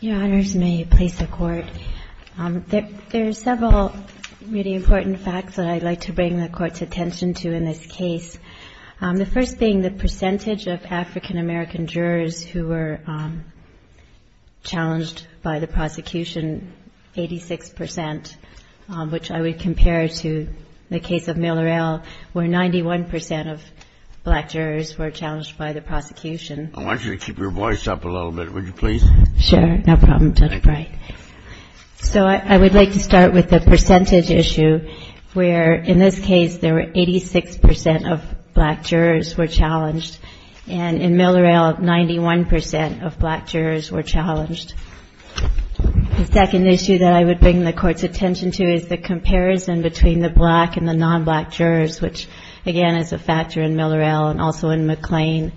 Your Honors, may you please support. There are several really important facts that I'd like to bring the Court's attention to in this case, the first being the percentage of African-American jurors who were challenged by the prosecution, 86 percent, which I would compare to the case of Miller L., where 91 percent of black jurors were challenged by the prosecution. I want you to keep your voice up a little bit, would you please? Sure, no problem, Judge Brey. So I would like to start with the percentage issue, where in this case there were 86 percent of black jurors were challenged, and in Miller L., 91 percent of black jurors were challenged. The second issue that I would bring the Court's attention to is the comparison between the black and the non-black jurors, which, again, is a factor in Miller L. and also in McLean,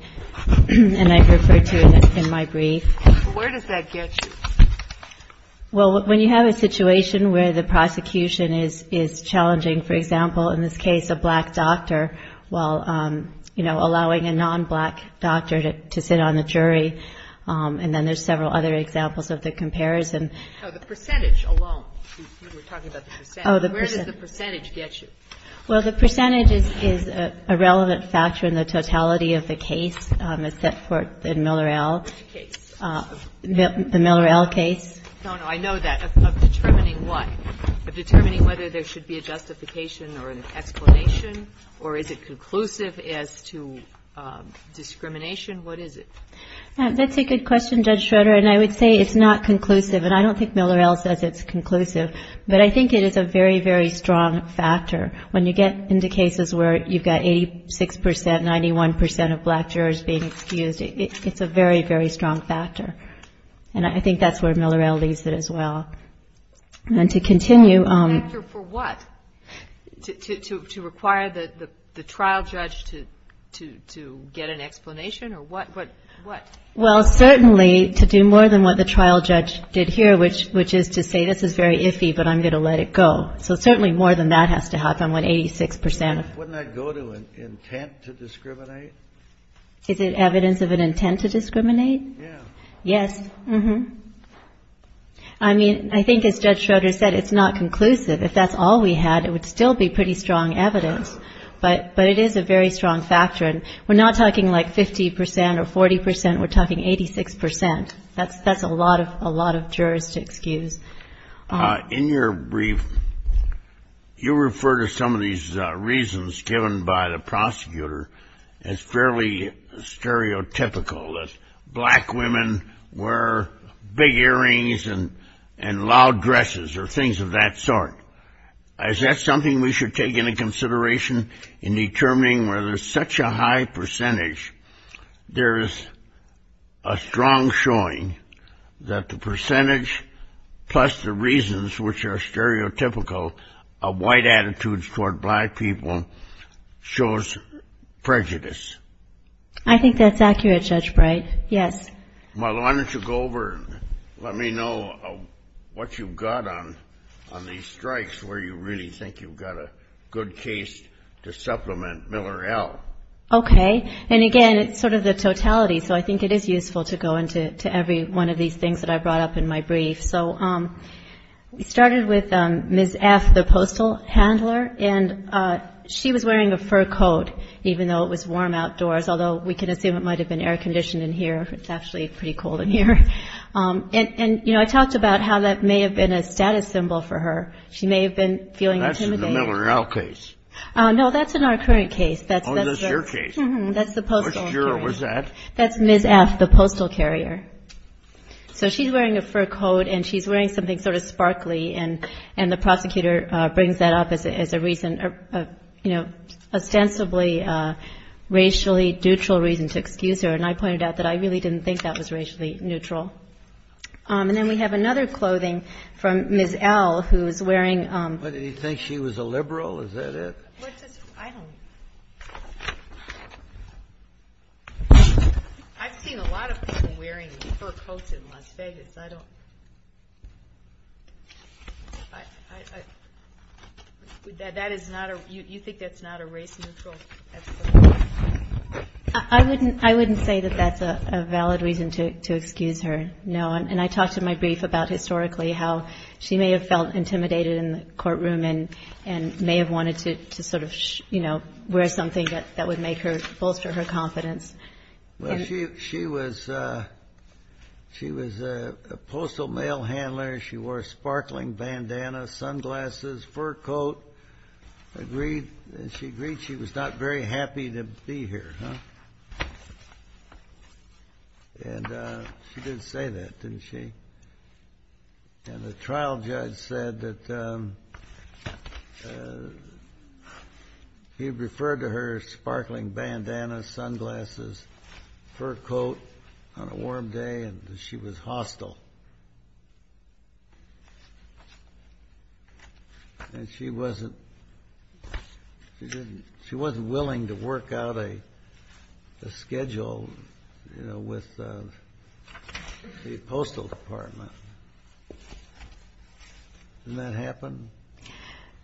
and I refer to it in my brief. Where does that get you? Well, when you have a situation where the prosecution is challenging, for example, in this case, a black doctor, while, you know, allowing a non-black doctor to sit on the jury, and then there's several other examples of the comparison. No, the percentage alone. You were talking about the percentage. Oh, the percentage. Where did the percentage get you? Well, the percentage is a relevant factor in the totality of the case. It's set forth in Miller L. Which case? The Miller L. case. No, no, I know that. Of determining what? Of determining whether there should be a justification or an explanation, or is it conclusive as to discrimination? What is it? That's a good question, Judge Schroeder, and I would say it's not conclusive. And I don't think Miller L. says it's conclusive. But I think it is a very, very strong factor. When you get into cases where you've got 86%, 91% of black jurors being excused, it's a very, very strong factor. And I think that's where Miller L. leaves it as well. And to continue. A factor for what? To require the trial judge to get an explanation, or what? Well, certainly to do more than what the trial judge did here, which is to say this is very iffy, but I'm going to let it go. So certainly more than that has to happen with 86%. Wouldn't that go to an intent to discriminate? Is it evidence of an intent to discriminate? Yeah. Yes. I mean, I think as Judge Schroeder said, it's not conclusive. If that's all we had, it would still be pretty strong evidence. But it is a very strong factor. And we're not talking like 50% or 40%. We're talking 86%. That's a lot of jurors to excuse. In your brief, you refer to some of these reasons given by the prosecutor as fairly stereotypical, that black women wear big earrings and loud dresses or things of that sort. Is that something we should take into consideration in determining whether such a high percentage, there is a strong showing that the percentage plus the reasons, which are stereotypical of white attitudes toward black people, shows prejudice? I think that's accurate, Judge Bright. Yes. Marlo, why don't you go over and let me know what you've got on these strikes, where you really think you've got a good case to supplement Miller L. Okay. And, again, it's sort of the totality, so I think it is useful to go into every one of these things that I brought up in my brief. So we started with Ms. F., the postal handler. And she was wearing a fur coat, even though it was warm outdoors, although we can assume it might have been air conditioned in here. It's actually pretty cold in here. And, you know, I talked about how that may have been a status symbol for her. She may have been feeling intimidated. That's in the Miller L. case. No, that's in our current case. Oh, that's your case. That's the postal. Which juror was that? That's Ms. F., the postal carrier. So she's wearing a fur coat, and she's wearing something sort of sparkly, and the prosecutor brings that up as a reason, you know, ostensibly racially neutral reason to excuse her. And I pointed out that I really didn't think that was racially neutral. And then we have another clothing from Ms. L., who is wearing ---- What, did he think she was a liberal? Is that it? I don't ---- I've seen a lot of people wearing fur coats in Las Vegas. I don't ---- That is not a ---- You think that's not a race neutral ---- I wouldn't say that that's a valid reason to excuse her, no. And I talked in my brief about historically how she may have felt intimidated in the courtroom and may have wanted to sort of, you know, wear something that would make her, bolster her confidence. Well, she was a postal mail handler. She wore a sparkling bandana, sunglasses, fur coat, agreed. And she agreed she was not very happy to be here, huh? And she did say that, didn't she? And the trial judge said that he referred to her sparkling bandana, sunglasses, fur coat on a warm day and that she was hostile. And she wasn't willing to work out a schedule, you know, with the postal department. Didn't that happen?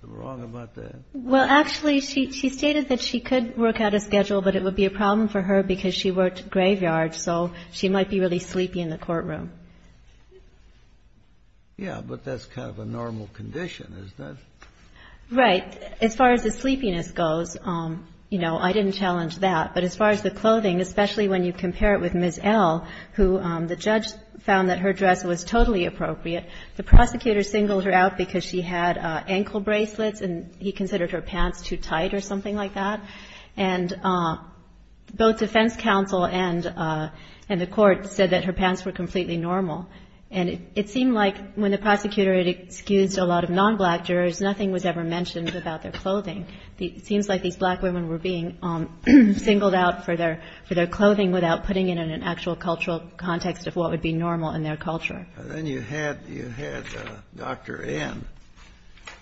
I'm wrong about that. Well, actually, she stated that she could work out a schedule, but it would be a problem for her because she worked graveyard, so she might be really sleepy in the courtroom. Yeah, but that's kind of a normal condition, isn't it? Right. As far as the sleepiness goes, you know, I didn't challenge that. But as far as the clothing, especially when you compare it with Ms. L, who the judge found that her dress was totally appropriate, the prosecutor singled her out because she had ankle bracelets and he considered her pants too tight or something like that. And both defense counsel and the court said that her pants were completely normal. And it seemed like when the prosecutor had excused a lot of non-black jurors, nothing was ever mentioned about their clothing. It seems like these black women were being singled out for their clothing without putting it in an actual cultural context of what would be normal in their culture. And then you had Dr. N.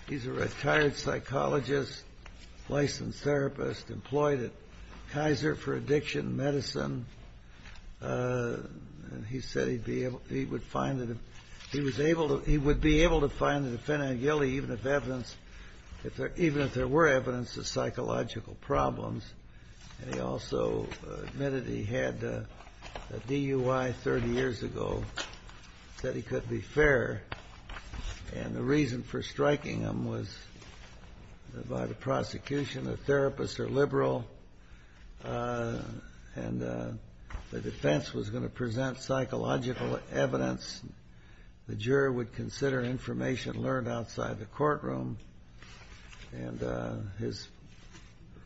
He's a retired psychologist, licensed therapist, employed at Kaiser for addiction medicine. And he said he would be able to find the defendant guilty even if there were evidence of psychological problems. And he also admitted he had a DUI 30 years ago, said he could be fair. And the reason for striking him was by the prosecution. The therapists are liberal. And the defense was going to present psychological evidence. The juror would consider information learned outside the courtroom. And his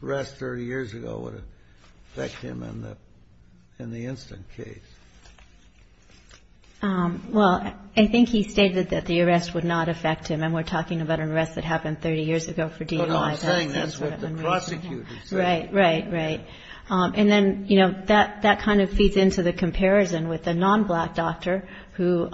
arrest 30 years ago would affect him in the instant case. Well, I think he stated that the arrest would not affect him. And we're talking about an arrest that happened 30 years ago for DUI. No, no, I'm saying that's what the prosecutor said. Right, right, right. And then, you know, that kind of feeds into the comparison with a non-black doctor who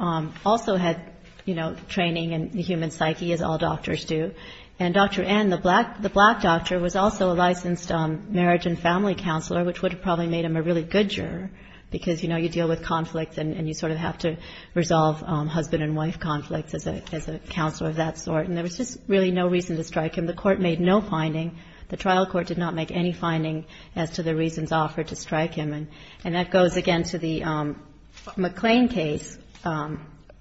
also had, you know, training in the human psyche, as all doctors do. And Dr. N., the black doctor, was also a licensed marriage and family counselor, which would have probably made him a really good juror because, you know, you deal with conflict and you sort of have to resolve husband and wife conflicts as a counselor of that sort. And there was just really no reason to strike him. The court made no finding. The trial court did not make any finding as to the reasons offered to strike him. And that goes, again, to the McClain case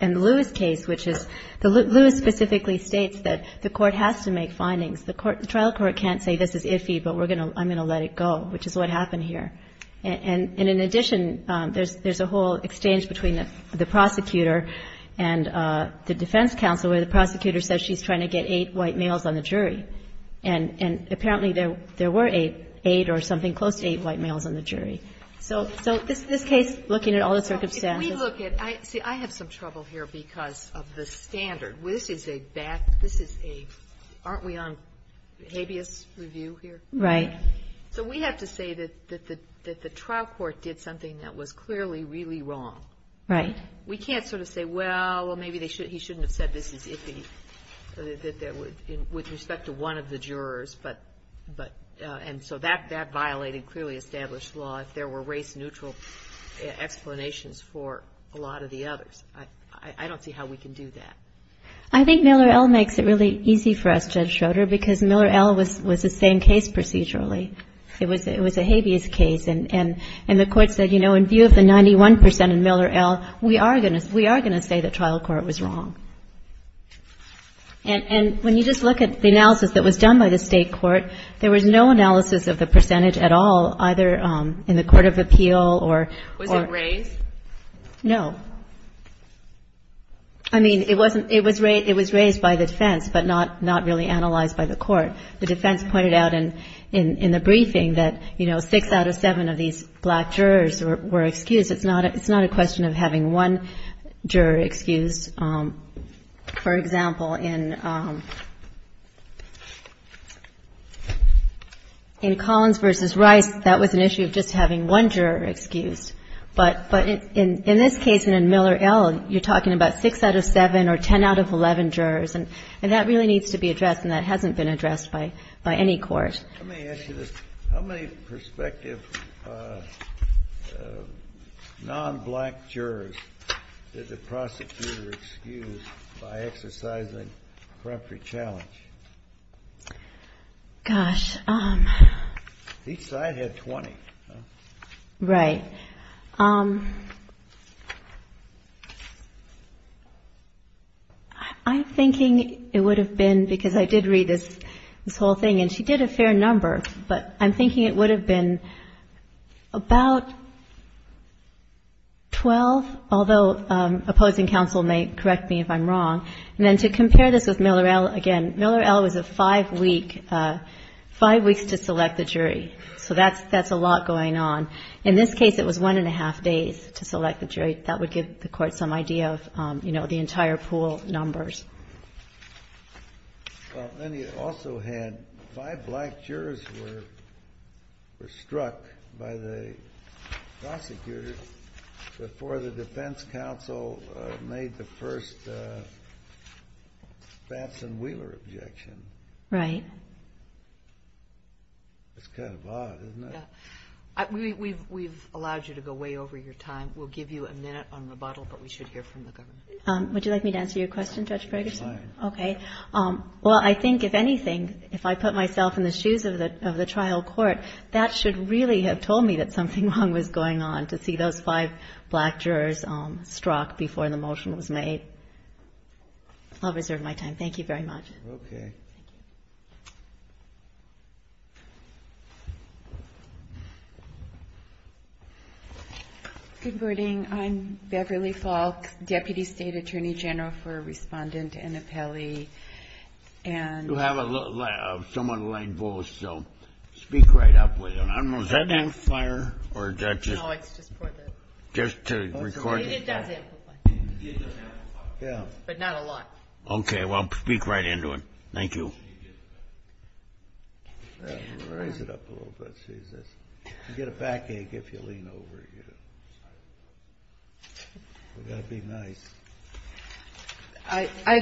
and the Lewis case, which is the Lewis specifically states that the court has to make findings. The trial court can't say this is iffy, but I'm going to let it go, which is what happened here. And in addition, there's a whole exchange between the prosecutor and the defense counsel where the prosecutor says she's trying to get eight white males on the jury. And apparently there were eight or something close to eight white males on the jury. So this case, looking at all the circumstances. If we look at – see, I have some trouble here because of the standard. This is a bad – this is a – aren't we on habeas review here? Right. So we have to say that the trial court did something that was clearly really wrong. Right. We can't sort of say, well, maybe he shouldn't have said this is iffy with respect to one of the jurors. But – and so that violated clearly established law if there were race-neutral explanations for a lot of the others. I don't see how we can do that. I think Miller-Ell makes it really easy for us, Judge Schroeder, because Miller-Ell was the same case procedurally. It was a habeas case. And the court said, you know, in view of the 91 percent in Miller-Ell, we are going to say the trial court was wrong. And when you just look at the analysis that was done by the state court, there was no analysis of the percentage at all, either in the court of appeal or – Was it raised? No. I mean, it was raised by the defense, but not really analyzed by the court. The defense pointed out in the briefing that, you know, six out of seven of these black jurors were excused. It's not a question of having one juror excused. For example, in Collins v. Rice, that was an issue of just having one juror excused. But in this case and in Miller-Ell, you're talking about six out of seven or 10 out of 11 jurors. And that really needs to be addressed, and that hasn't been addressed by any court. Let me ask you this. How many prospective non-black jurors did the prosecutor excuse by exercising preemptory challenge? Gosh. Each side had 20. Right. I'm thinking it would have been, because I did read this whole thing, and she did a fair number, but I'm thinking it would have been about 12, although opposing counsel may correct me if I'm wrong. And then to compare this with Miller-Ell again, Miller-Ell was a five-week, five weeks to select the jury. So that's a lot going on. In this case, it was one and a half days to select the jury. That would give the court some idea of, you know, the entire pool of numbers. Well, then you also had five black jurors were struck by the prosecutor before the defense counsel made the first Batson-Wheeler objection. Right. That's kind of odd, isn't it? We've allowed you to go way over your time. We'll give you a minute on rebuttal, but we should hear from the government. Would you like me to answer your question, Judge Ferguson? Fine. Okay. Well, I think, if anything, if I put myself in the shoes of the trial court, that should really have told me that something wrong was going on, to see those five black jurors struck before the motion was made. I'll reserve my time. Thank you very much. Okay. Thank you. Good morning. I'm Beverly Falk, Deputy State Attorney General for Respondent and Appellee. You have a somewhat light voice, so speak right up with it. I don't know, is that amplifier, or is that just to record? It does amplify, but not a lot. Okay. Well, speak right into it. Thank you. I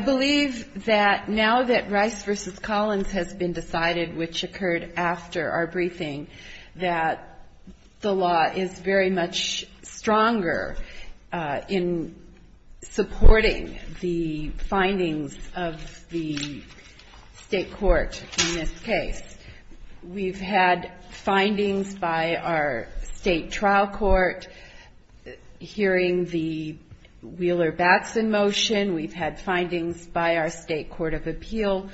believe that now that Rice v. Collins has been decided, which occurred after our briefing, that the law is very much stronger in supporting the findings of the state court in this case. We've had findings by our state trial court hearing the Wheeler-Batson motion. We've had findings by our state court of appeal,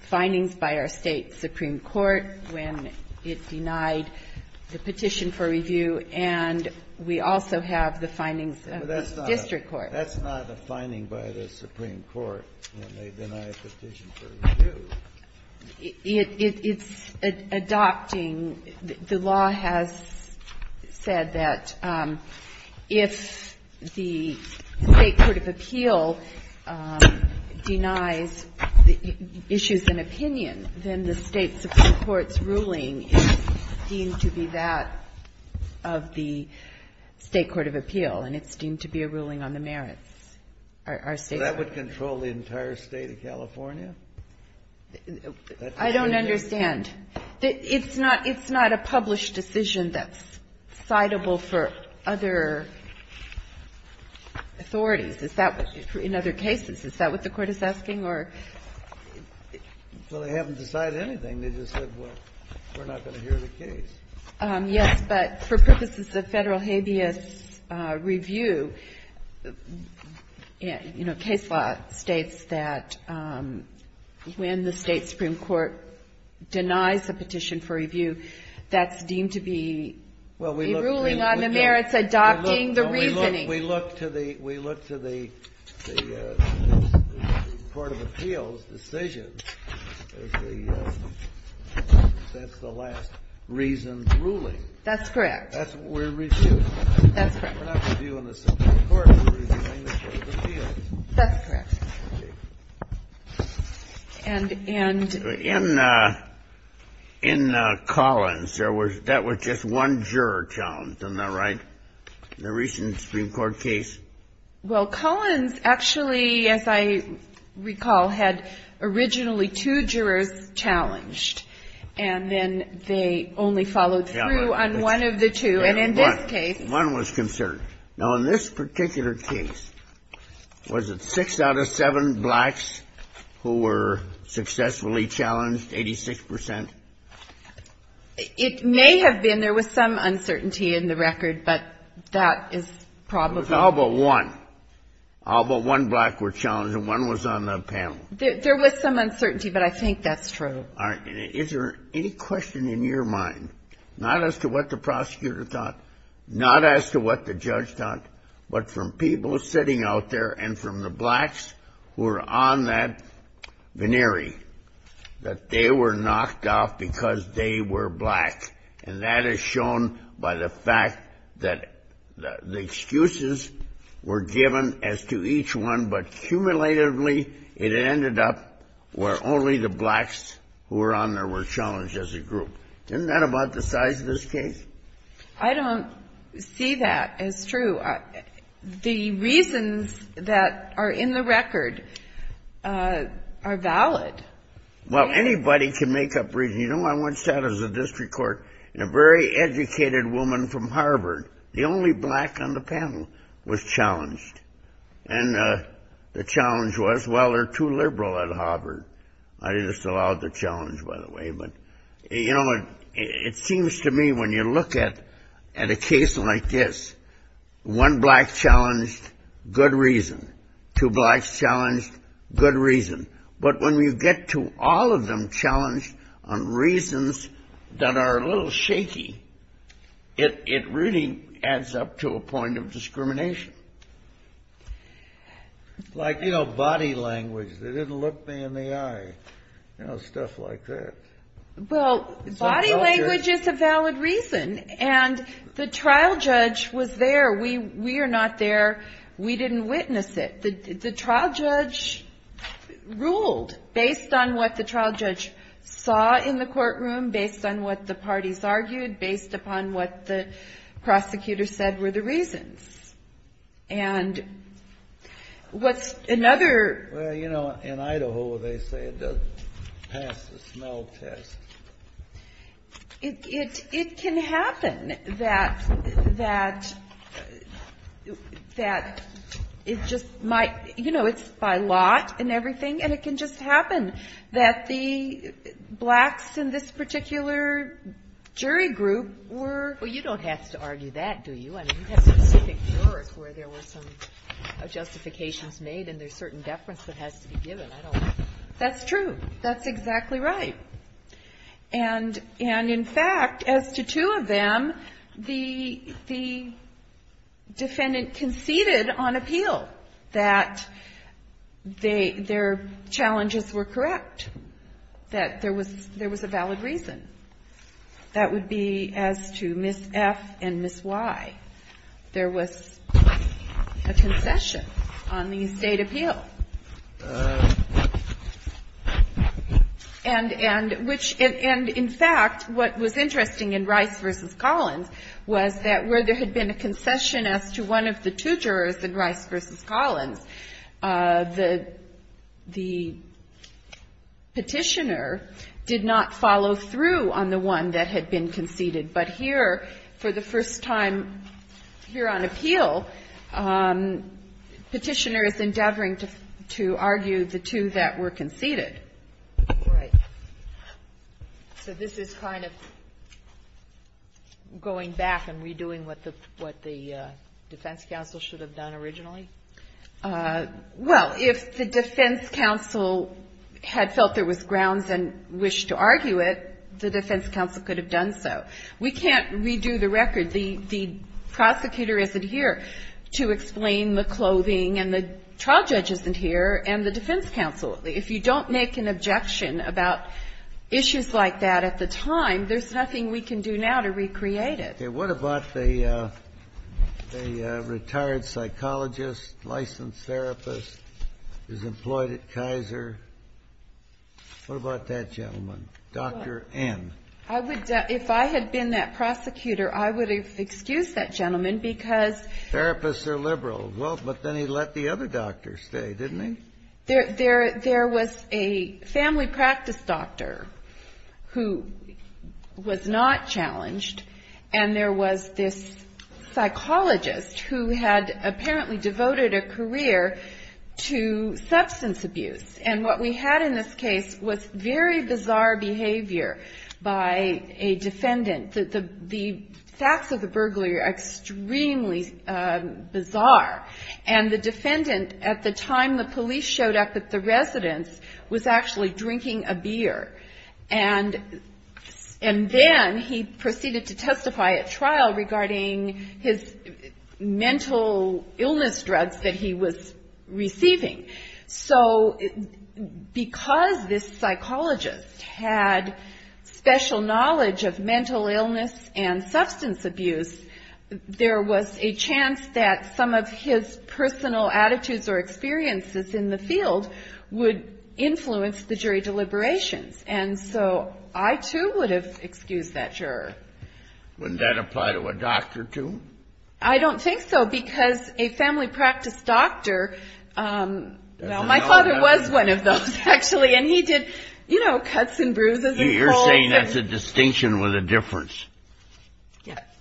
findings by our state supreme court when it denied the petition for review. And we also have the findings of the district court. But that's not a finding by the supreme court when they deny a petition for review. It's adopting. The law has said that if the state court of appeal denies issues and opinion, then the state supreme court's ruling is deemed to be that of the state court of appeal. And it's deemed to be a ruling on the merits. Our state court of appeal. So that would control the entire State of California? I don't understand. It's not a published decision that's citable for other authorities. Is that, in other cases, is that what the Court is asking? Well, they haven't decided anything. They just said, well, we're not going to hear the case. Yes, but for purposes of Federal habeas review, you know, case law states that when the state supreme court denies a petition for review, that's deemed to be a ruling on the merits, adopting the reasoning. We look to the Court of Appeals decision as the last reasoned ruling. That's correct. We're reviewing. That's correct. We're not reviewing the Supreme Court. We're reviewing the Court of Appeals. That's correct. And in Collins, that was just one juror challenge, am I right? In the recent Supreme Court case. Well, Collins actually, as I recall, had originally two jurors challenged. And then they only followed through on one of the two. And in this case. One was concerned. Now, in this particular case, was it six out of seven blacks who were successfully challenged, 86 percent? It may have been. There was some uncertainty in the record, but that is probably. It was all but one. All but one black were challenged, and one was on the panel. There was some uncertainty, but I think that's true. All right. Is there any question in your mind, not as to what the prosecutor thought, not as to what the judge thought, but from people sitting out there and from the blacks who were on that venerey, that they were knocked off because they were black. And that is shown by the fact that the excuses were given as to each one, but cumulatively, it ended up where only the blacks who were on there were challenged as a group. Isn't that about the size of this case? I don't see that as true. The reasons that are in the record are valid. Well, anybody can make up reasons. You know, I once sat as a district court in a very educated woman from Harvard. The only black on the panel was challenged. And the challenge was, well, they're too liberal at Harvard. I just allowed the challenge, by the way. You know, it seems to me when you look at a case like this, one black challenged, good reason. Two blacks challenged, good reason. But when you get to all of them challenged on reasons that are a little shaky, it really adds up to a point of discrimination. Like, you know, body language. They didn't look me in the eye. You know, stuff like that. Well, body language is a valid reason. And the trial judge was there. We are not there. We didn't witness it. The trial judge ruled based on what the trial judge saw in the courtroom, based on what the parties argued, based upon what the prosecutor said were the reasons. And what's another? Well, you know, in Idaho they say it doesn't pass the smell test. It can happen that it just might. You know, it's by lot and everything. And it can just happen that the blacks in this particular jury group were. Well, you don't have to argue that, do you? I mean, you have specific jurors where there were some justifications made and there's certain deference that has to be given. I don't know. That's true. That's exactly right. And in fact, as to two of them, the defendant conceded on appeal that their challenges were correct, that there was a valid reason. That would be as to Ms. F and Ms. Y. There was a concession on the estate appeal. And in fact, what was interesting in Rice v. Collins was that where there had been a concession as to one of the two jurors in Rice v. Collins, the Petitioner did not follow through on the one that had been conceded. But here, for the first time here on appeal, Petitioner is endeavoring to argue the two that were conceded. Right. So this is kind of going back and redoing what the defense counsel should have done originally? Well, if the defense counsel had felt there was grounds and wished to argue it, the defense counsel could have done so. We can't redo the record. The prosecutor isn't here to explain the clothing, and the trial judge isn't here, and the defense counsel. Absolutely. If you don't make an objection about issues like that at the time, there's nothing we can do now to recreate it. Okay. What about the retired psychologist, licensed therapist who's employed at Kaiser? What about that gentleman, Dr. N? If I had been that prosecutor, I would have excused that gentleman because ---- Therapists are liberal. Well, but then he let the other doctor stay, didn't he? There was a family practice doctor who was not challenged, and there was this psychologist who had apparently devoted a career to substance abuse. And what we had in this case was very bizarre behavior by a defendant. The facts of the burglary are extremely bizarre. And the defendant, at the time the police showed up at the residence, was actually drinking a beer. And then he proceeded to testify at trial regarding his mental illness drugs that he was receiving. So because this psychologist had special knowledge of mental illness and substance abuse, there was a chance that some of his personal attitudes or experiences in the field would influence the jury deliberations. And so I, too, would have excused that juror. Wouldn't that apply to a doctor, too? I don't think so because a family practice doctor ---- Well, my father was one of those, actually, and he did, you know, cuts and bruises and colds. You're saying that's a distinction with a difference.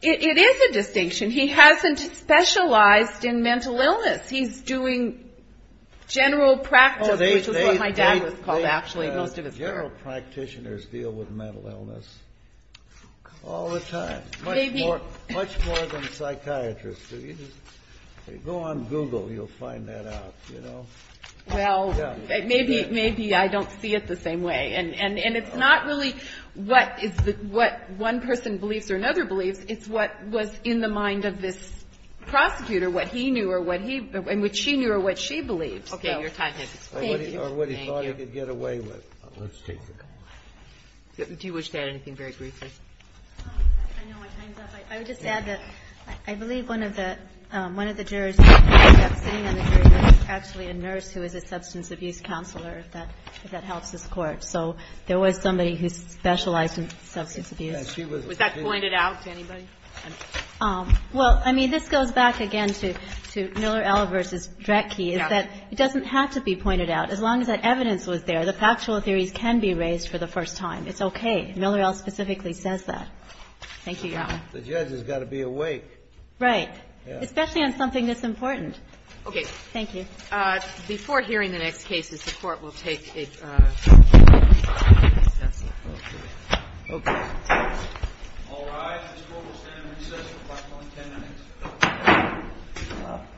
It is a distinction. He hasn't specialized in mental illness. He's doing general practice, which is what my dad was called, actually, most of his career. General practitioners deal with mental illness all the time, much more than psychiatrists do. Go on Google. You'll find that out, you know. Well, maybe I don't see it the same way. And it's not really what one person believes or another believes. It's what was in the mind of this prosecutor, what he knew or what she knew or what she believed. Okay. Your time has expired. Thank you. Thank you. Or what he thought he could get away with. Let's take a couple more. Do you wish to add anything very briefly? I know my time's up. I would just add that I believe one of the jurors who ended up sitting on the jury list is actually a nurse who is a substance abuse counselor, if that helps this Court. So there was somebody who specialized in substance abuse. Was that pointed out to anybody? Well, I mean, this goes back again to Miller-Ell v. Drecke is that it doesn't have to be pointed out. As long as that evidence was there, the factual theories can be raised for the first time. It's okay. Miller-Ell specifically says that. Thank you, Your Honor. The judge has got to be awake. Right. Especially on something this important. Okay. Thank you. Before hearing the next cases, the Court will take a recess. Okay. All rise. This Court will stand in recess for approximately 10 minutes.